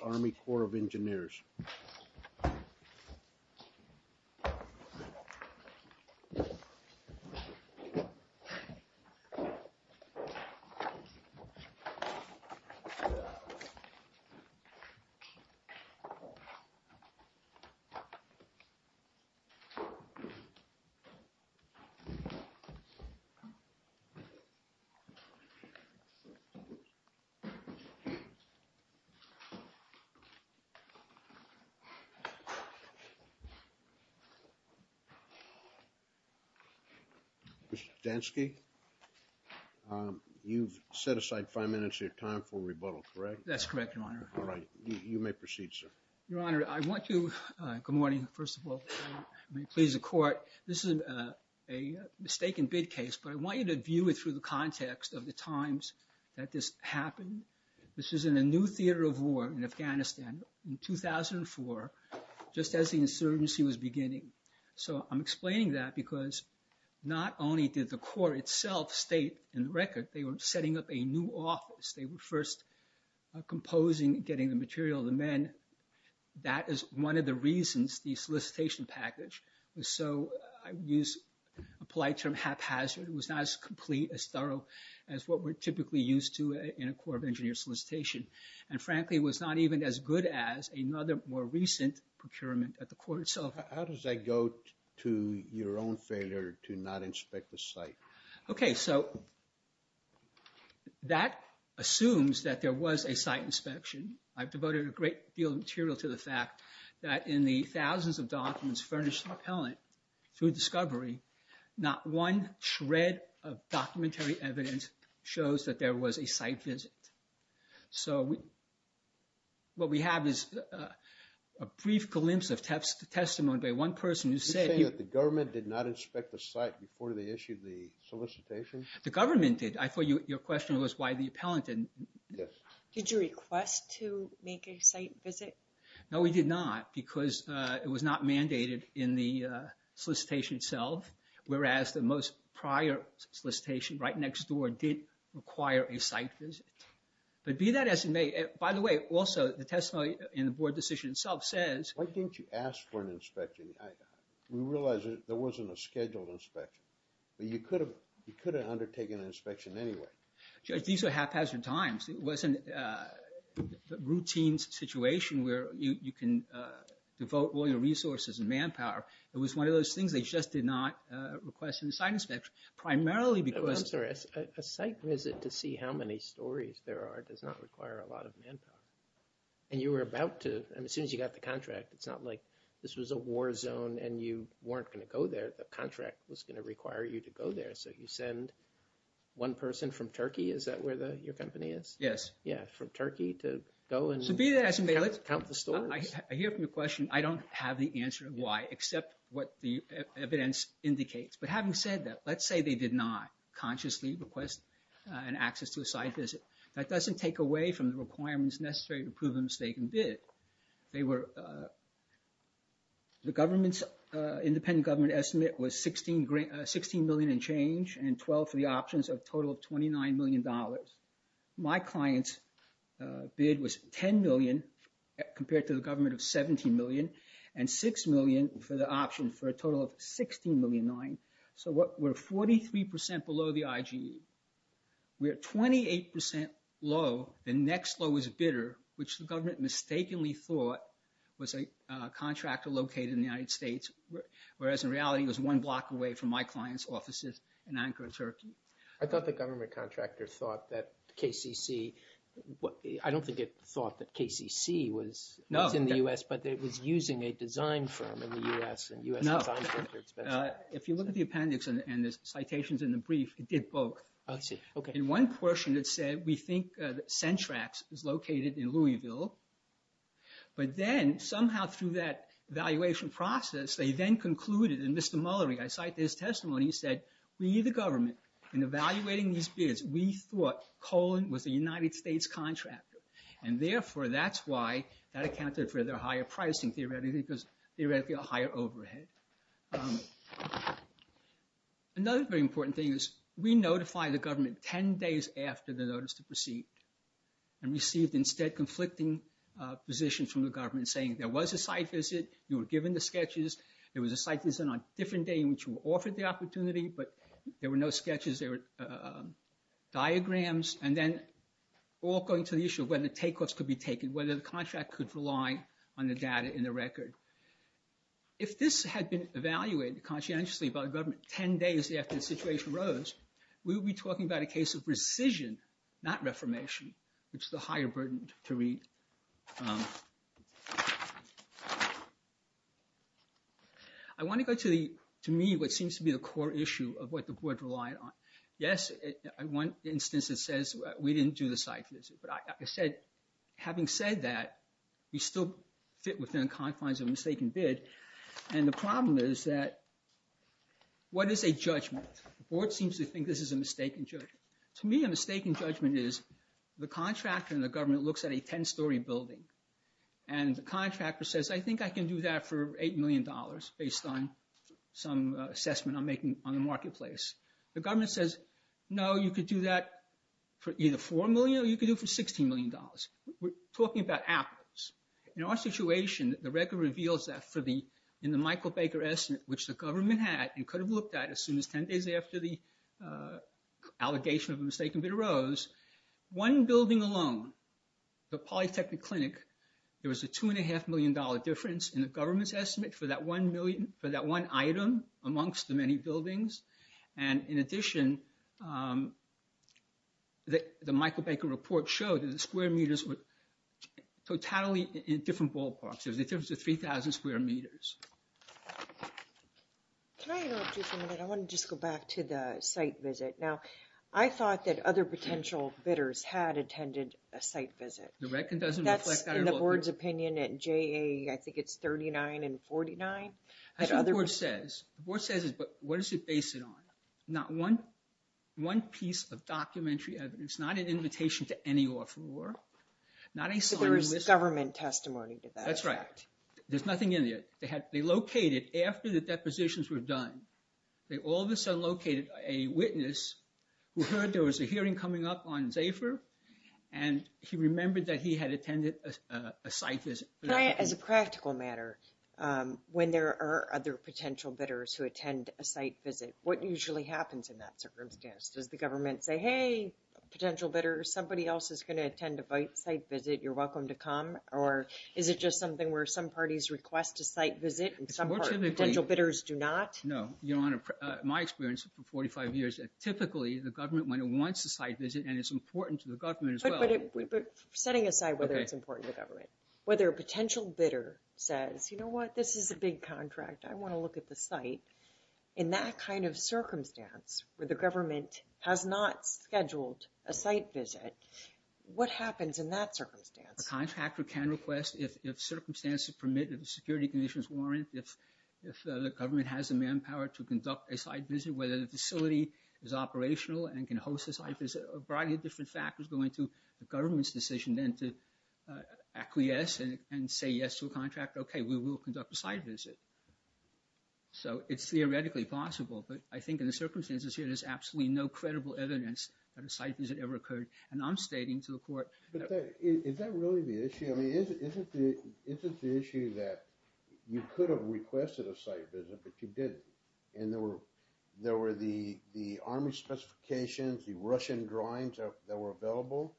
Army Corps of Engineers Mr. Stansky, you've set aside five minutes of your time for rebuttal, correct? That's correct, Your Honor. All right, you may proceed, sir. Your Honor, I want to... Good morning, first of all. May it please the Court. This is a mistaken bid case, but I want you to view it through the context of the times that this happened. This is in a new theater of war in Afghanistan in 2004, just as the insurgency was beginning. So I'm explaining that because not only did the court itself state in the record, they were setting up a new office. They were first composing, getting the material, the men. That is one of the reasons the solicitation package was so, I use a polite term, haphazard. It was not as complete, as thorough as what we're typically used to in a Corps of Engineers solicitation. And frankly, it was not even as good as another more recent procurement at the court itself. How does that go to your own failure to not inspect the site? Okay, so that assumes that there was a site inspection. I've devoted a great deal of material to the fact that in the thousands of documents furnished in the appellant through discovery, not one shred of documentary evidence shows that there was a site visit. So what we have is a brief glimpse of testimony by one person who said... You're saying that the government did not inspect the site before they issued the solicitation? The government did. I thought your question was why the appellant didn't. Did you request to make a site visit? No, we did not because it was not mandated in the solicitation itself. Whereas the most prior solicitation right next door did require a site visit. But be that as it may, by the way, also the testimony in the board decision itself says... Why didn't you ask for an inspection? We realize there wasn't a scheduled inspection. But you could have undertaken an inspection anyway. Judge, these are haphazard times. It wasn't a routine situation where you can devote all your resources and manpower. It was one of those things they just did not request in the site inspection, primarily because... I'm sorry, a site visit to see how many stories there are does not require a lot of manpower. And you were about to, as soon as you got the contract, it's not like this was a war zone and you weren't going to go there. The contract was going to require you to go there. So you send one person from Turkey, is that where your company is? Yes. Yeah, from Turkey to go and count the stories. I hear from the question, I don't have the answer of why, except what the evidence indicates. But having said that, let's say they did not consciously request an access to a site visit. That doesn't take away from the requirements necessary to prove a mistaken bid. They were... The government's independent government estimate was $16 million and change and $12 for the options of a total of $29 million. My client's bid was $10 million compared to the government of $17 million and $6 million for the option for a total of $16.9 million. So we're 43% below the IGE. We're 28% low. The next low is bidder, which the government mistakenly thought was a contractor located in the United States. Whereas in reality, it was one block away from my client's offices in Ankara, Turkey. I thought the government contractor thought that KCC... I don't think it thought that KCC was in the U.S., but it was using a design firm in the U.S. No. If you look at the appendix and the citations in the brief, it did both. In one portion, it said, we think Centrax is located in Louisville. But then somehow through that evaluation process, they then concluded, and Mr. Mullery, I cite his testimony, he said, we, the government, in evaluating these bids, we thought Colin was a United States contractor. And therefore, that's why that accounted for their higher pricing theoretically, because theoretically a higher overhead. Another very important thing is we notify the government 10 days after the notice to proceed. And we received instead conflicting positions from the government saying there was a site visit. You were given the sketches. There was a site visit on a different day in which you were offered the opportunity, but there were no sketches. There were diagrams, and then all going to the issue of whether takeoffs could be taken, whether the contract could rely on the data in the record. If this had been evaluated conscientiously by the government 10 days after the situation arose, we would be talking about a case of rescission, not reformation, which is a higher burden to read. I want to go to the, to me, what seems to be the core issue of what the board relied on. Yes, in one instance it says we didn't do the site visit. But I said, having said that, we still fit within the confines of a mistaken bid. And the problem is that what is a judgment? The board seems to think this is a mistaken judgment. To me, a mistaken judgment is the contractor and the government looks at a 10-story building. And the contractor says, I think I can do that for $8 million based on some assessment I'm making on the marketplace. The government says, no, you could do that for either $4 million or you could do it for $16 million. We're talking about afterwards. In our situation, the record reveals that in the Michael Baker estimate, which the government had and could have looked at as soon as 10 days after the allegation of a mistaken bid arose, one building alone, the Polytechnic Clinic, there was a $2.5 million difference in the government's estimate for that one item amongst the many buildings. And in addition, the Michael Baker report showed that the square meters were totally in different ballparks. There was a difference of 3,000 square meters. Can I interrupt you for a minute? I want to just go back to the site visit. Now, I thought that other potential bidders had attended a site visit. The record doesn't reflect that at all. That's in the board's opinion at JA, I think it's 39 and 49. That's what the board says. The board says, but what is it based on? Not one piece of documentary evidence, not an invitation to any lawful war. So there was government testimony to that. That's right. There's nothing in there. They located, after the depositions were done, they all of a sudden located a witness who heard there was a hearing coming up on Zephyr. And he remembered that he had attended a site visit. As a practical matter, when there are other potential bidders who attend a site visit, what usually happens in that circumstance? Does the government say, hey, potential bidder, somebody else is going to attend a site visit. You're welcome to come. Or is it just something where some parties request a site visit and some potential bidders do not? No. Your Honor, my experience for 45 years, typically the government, when it wants a site visit and it's important to the government as well. Setting aside whether it's important to the government, whether a potential bidder says, you know what, this is a big contract. I want to look at the site. In that kind of circumstance where the government has not scheduled a site visit, what happens in that circumstance? A contractor can request, if circumstances permit, if the security conditions warrant, if the government has the manpower to conduct a site visit, whether the facility is operational and can host a site visit. A variety of different factors go into the government's decision then to acquiesce and say yes to a contract. Okay, we will conduct a site visit. So it's theoretically possible. But I think in the circumstances here, there's absolutely no credible evidence that a site visit ever occurred. And I'm stating to the Court— But is that really the issue? I mean, is it the issue that you could have requested a site visit, but you didn't? And there were the Army specifications, the Russian drawings that were available.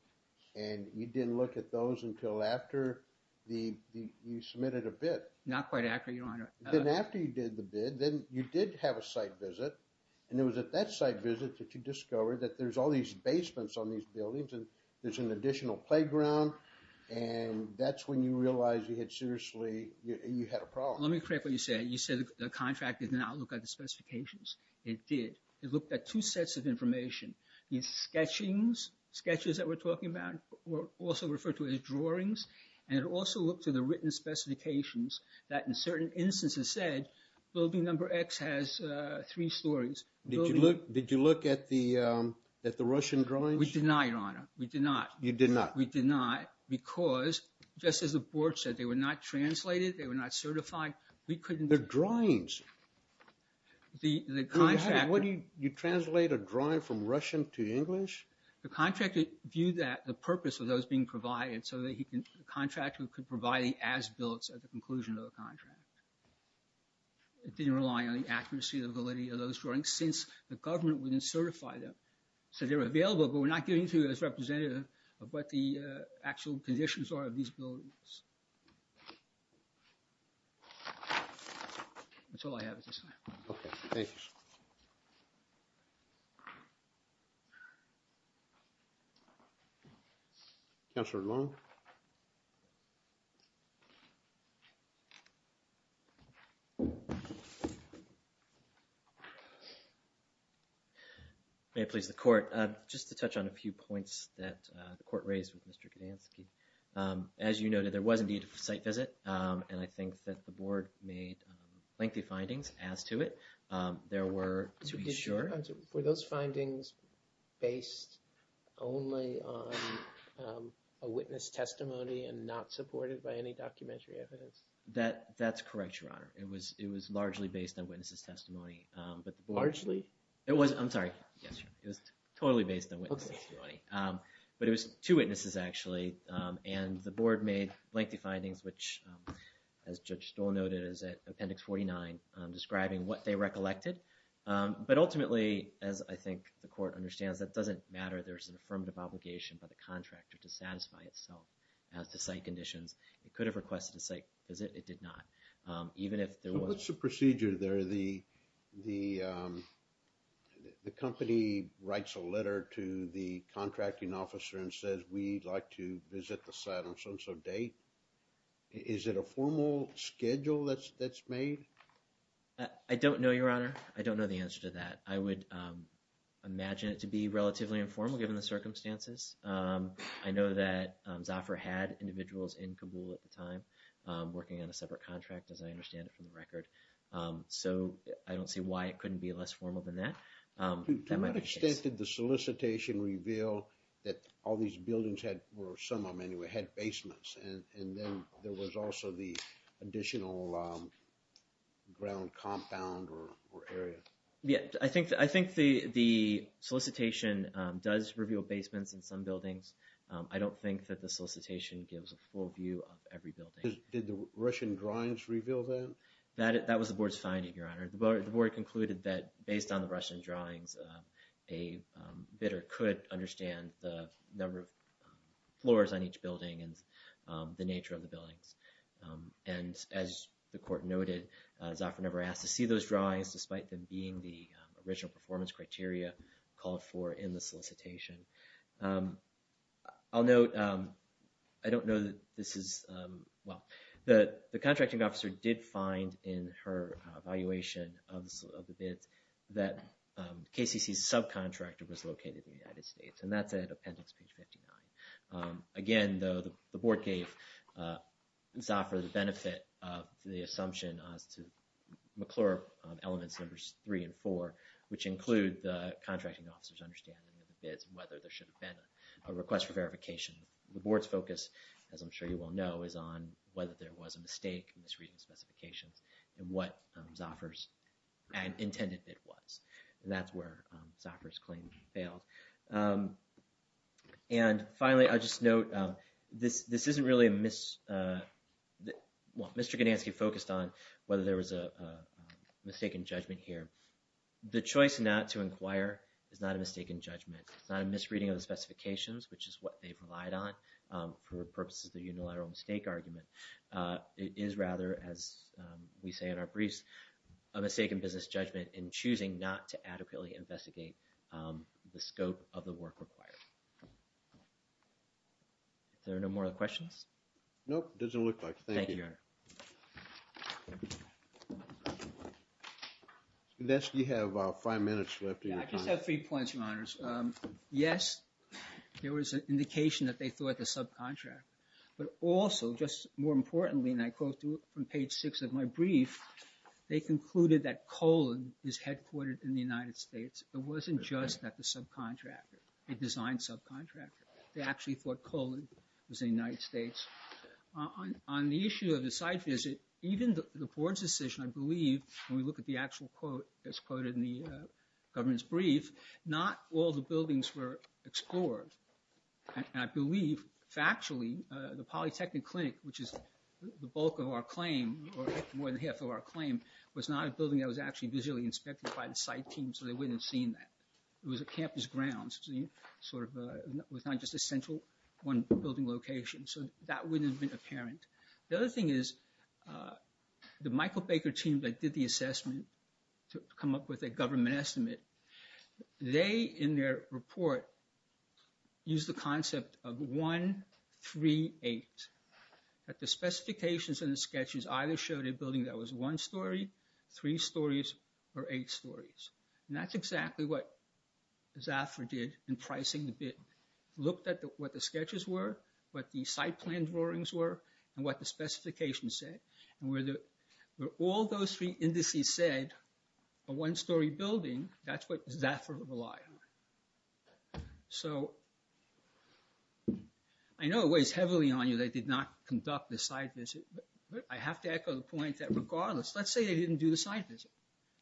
And you didn't look at those until after you submitted a bid. Not quite accurate, Your Honor. Then after you did the bid, then you did have a site visit. And it was at that site visit that you discovered that there's all these basements on these buildings and there's an additional playground. And that's when you realized you had seriously—you had a problem. Let me correct what you said. You said the contract did not look at the specifications. It did. It looked at two sets of information. These sketchings, sketches that we're talking about, were also referred to as drawings. And it also looked to the written specifications that in certain instances said, building number X has three stories. Did you look at the Russian drawings? We did not, Your Honor. We did not. You did not. We did not. Because, just as the board said, they were not translated. They were not certified. We couldn't— They're drawings. The contract— What do you—you translate a drawing from Russian to English? The contractor viewed that—the purpose of those being provided so that he could—the contractor could provide the as-builts at the conclusion of the contract. It didn't rely on the accuracy or validity of those drawings since the government wouldn't certify them. So they were available, but we're not getting to as representative of what the actual conditions are of these buildings. That's all I have at this time. Okay. Thank you, sir. Counselor Long? Thank you, Your Honor. May it please the court, just to touch on a few points that the court raised with Mr. Gudansky. As you noted, there was indeed a site visit, and I think that the board made lengthy findings as to it. There were, to be sure— and not supported by any documentary evidence. That's correct, Your Honor. It was largely based on witnesses' testimony, but the board— Largely? It was—I'm sorry. Yes, sir. It was totally based on witnesses' testimony. But it was two witnesses, actually, and the board made lengthy findings, which, as Judge Stoll noted, is at Appendix 49, describing what they recollected. But ultimately, as I think the court understands, that doesn't matter. There's an affirmative obligation by the contractor to satisfy itself as to site conditions. It could have requested a site visit. It did not. Even if there was— So what's the procedure there? The company writes a letter to the contracting officer and says, We'd like to visit the site on so-and-so date. Is it a formal schedule that's made? I don't know, Your Honor. I don't know the answer to that. I would imagine it to be relatively informal, given the circumstances. I know that Zoffer had individuals in Kabul at the time working on a separate contract, as I understand it from the record. So I don't see why it couldn't be less formal than that. To what extent did the solicitation reveal that all these buildings had—or some of them, anyway—had basements, and then there was also the additional ground compound or area? I think the solicitation does reveal basements in some buildings. I don't think that the solicitation gives a full view of every building. Did the Russian drawings reveal that? That was the board's finding, Your Honor. The board concluded that, based on the Russian drawings, a bidder could understand the number of floors on each building and the nature of the buildings. And, as the court noted, Zoffer never asked to see those drawings, despite them being the original performance criteria called for in the solicitation. I'll note, I don't know that this is— well, the contracting officer did find in her evaluation of the bids that KCC's subcontractor was located in the United States, and that's at appendix page 59. Again, though, the board gave Zoffer the benefit of the assumption as to McClure elements numbers three and four, which include the contracting officer's understanding of the bids and whether there should have been a request for verification. The board's focus, as I'm sure you all know, is on whether there was a mistake in this reading of specifications and what Zoffer's intended bid was. And that's where Zoffer's claim failed. And finally, I'll just note, this isn't really a mis— well, Mr. Ganansky focused on whether there was a mistake in judgment here. The choice not to inquire is not a mistake in judgment. It's not a misreading of the specifications, which is what they've relied on for purposes of the unilateral mistake argument. It is rather, as we say in our briefs, a mistake in business judgment in choosing not to adequately investigate the scope of the work required. Is there no more questions? Nope, doesn't look like it. Thank you. Thank you, Your Honor. Mr. Ganansky, you have five minutes left of your time. Yeah, I just have three points, Your Honors. Yes, there was an indication that they thought the subcontract, but also, just more importantly, and I quote from page six of my brief, they concluded that Colon is headquartered in the United States. It wasn't just that the subcontractor, a design subcontractor. They actually thought Colon was in the United States. On the issue of the site visit, even the board's decision, I believe, when we look at the actual quote that's quoted in the government's brief, not all the buildings were explored. And I believe, factually, the Polytechnic Clinic, which is the bulk of our claim, or more than half of our claim, was not a building that was actually visually inspected by the site team, so they wouldn't have seen that. It was a campus ground, so it was not just a central one building location, so that wouldn't have been apparent. The other thing is, the Michael Baker team that did the assessment to come up with a government estimate, they, in their report, used the concept of one, three, eight, that the specifications and the sketches either showed a building that was one story, three stories, or eight stories. And that's exactly what Zafra did in pricing the bid. Looked at what the sketches were, what the site plan drawings were, and what the specifications said, and where all those three indices said, a one story building, that's what Zafra relied on. So, I know it weighs heavily on you they did not conduct the site visit, but I have to echo the point that regardless, let's say they didn't do the site visit.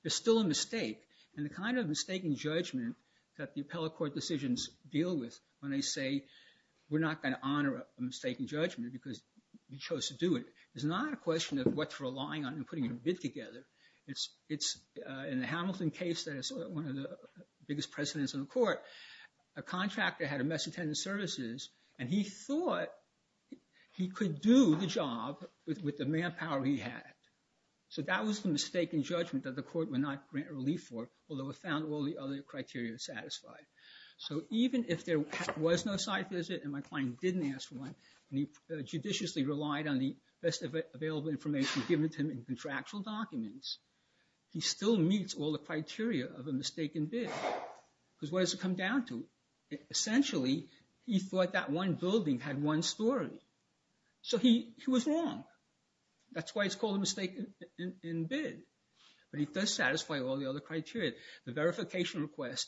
There's still a mistake. And the kind of mistaken judgment that the appellate court decisions deal with when they say, we're not going to honor a mistaken judgment because we chose to do it, is not a question of what they're relying on in putting a bid together. It's in the Hamilton case that is one of the biggest precedents in the court, a contractor had a mess of tenant services, and he thought he could do the job with the manpower he had. So, that was the mistaken judgment that the court would not grant relief for, although it found all the other criteria satisfied. So, even if there was no site visit, and my client didn't ask for one, and he judiciously relied on the best available information given to him in contractual documents, he still meets all the criteria of a mistaken bid. Because what does it come down to? Essentially, he thought that one building had one story. So, he was wrong. That's why it's called a mistaken bid. But it does satisfy all the other criteria. The verification request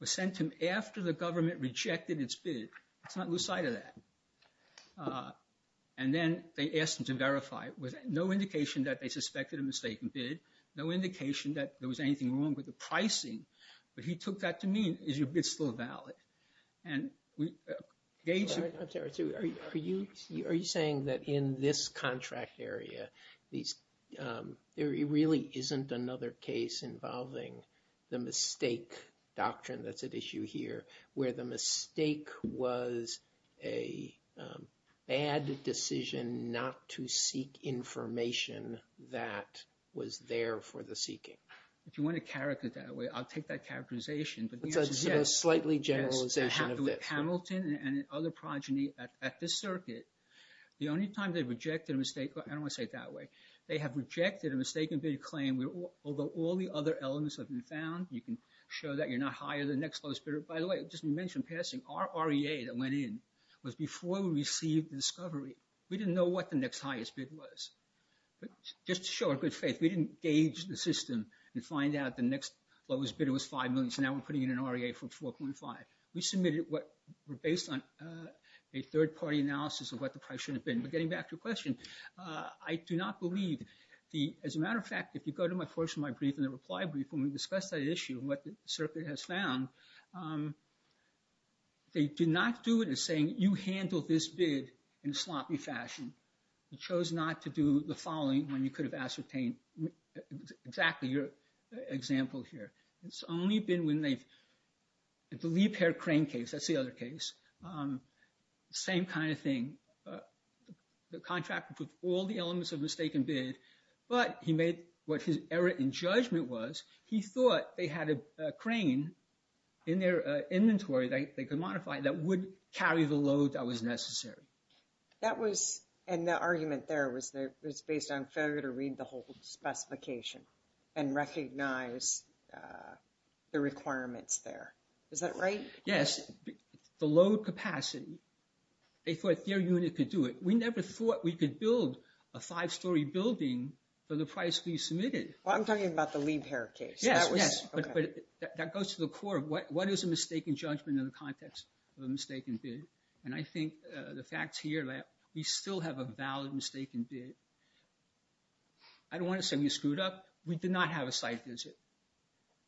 was sent to him after the government rejected its bid. Let's not lose sight of that. And then they asked him to verify. There was no indication that they suspected a mistaken bid, no indication that there was anything wrong with the pricing, but he took that to mean, is your bid still valid? Are you saying that in this contract area, there really isn't another case involving the mistake doctrine that's at issue here, where the mistake was a bad decision not to seek information that was there for the seeking? If you want to characterize it that way, I'll take that characterization. It's a slightly generalization of this. Hamilton and other progeny at this circuit, the only time they rejected a mistake, I don't want to say it that way, they have rejected a mistaken bid claim, although all the other elements have been found. You can show that you're not higher than the next lowest bidder. By the way, just to mention passing, our REA that went in was before we received the discovery. We didn't know what the next highest bid was. Just to show our good faith, we didn't gauge the system and find out the next lowest bid was $5 million, so now we're putting in an REA for $4.5 million. We submitted what were based on a third-party analysis of what the price should have been. But getting back to your question, I do not believe, as a matter of fact, if you go to my first of my brief in the reply brief when we discussed that issue, what the circuit has found, they did not do it as saying, you handled this bid in a sloppy fashion. You chose not to do the following when you could have ascertained exactly your example here. It's only been when they've, the leap hair crane case, that's the other case, same kind of thing. The contractor put all the elements of the mistaken bid, but he made what his error in judgment was. He thought they had a crane in their inventory that they could modify that would carry the load that was necessary. That was, and the argument there was based on failure to read the whole specification and recognize the requirements there. Is that right? Yes, the load capacity, they thought their unit could do it. We never thought we could build a five-story building for the price we submitted. Well, I'm talking about the leap hair case. Yes, but that goes to the core of what is a mistaken judgment in the context of a mistaken bid. And I think the facts here that we still have a valid mistaken bid. I don't want to say we screwed up. We did not have a site visit.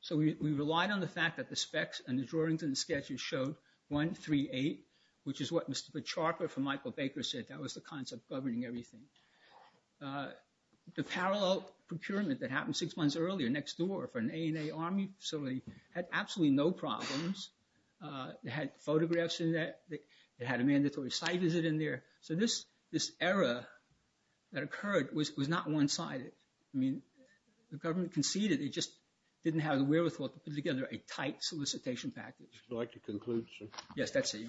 So we relied on the fact that the specs and the drawings and the sketches showed 138, which is what Mr. Petrarca from Michael Baker said. That was the concept governing everything. The parallel procurement that happened six months earlier next door for an ANA Army facility had absolutely no problems. It had photographs in that. It had a mandatory site visit in there. So this error that occurred was not one-sided. I mean, the government conceded. It just didn't have the wherewithal to put together a tight solicitation package. Would you like to conclude, sir? Yes, that's it. Thank you.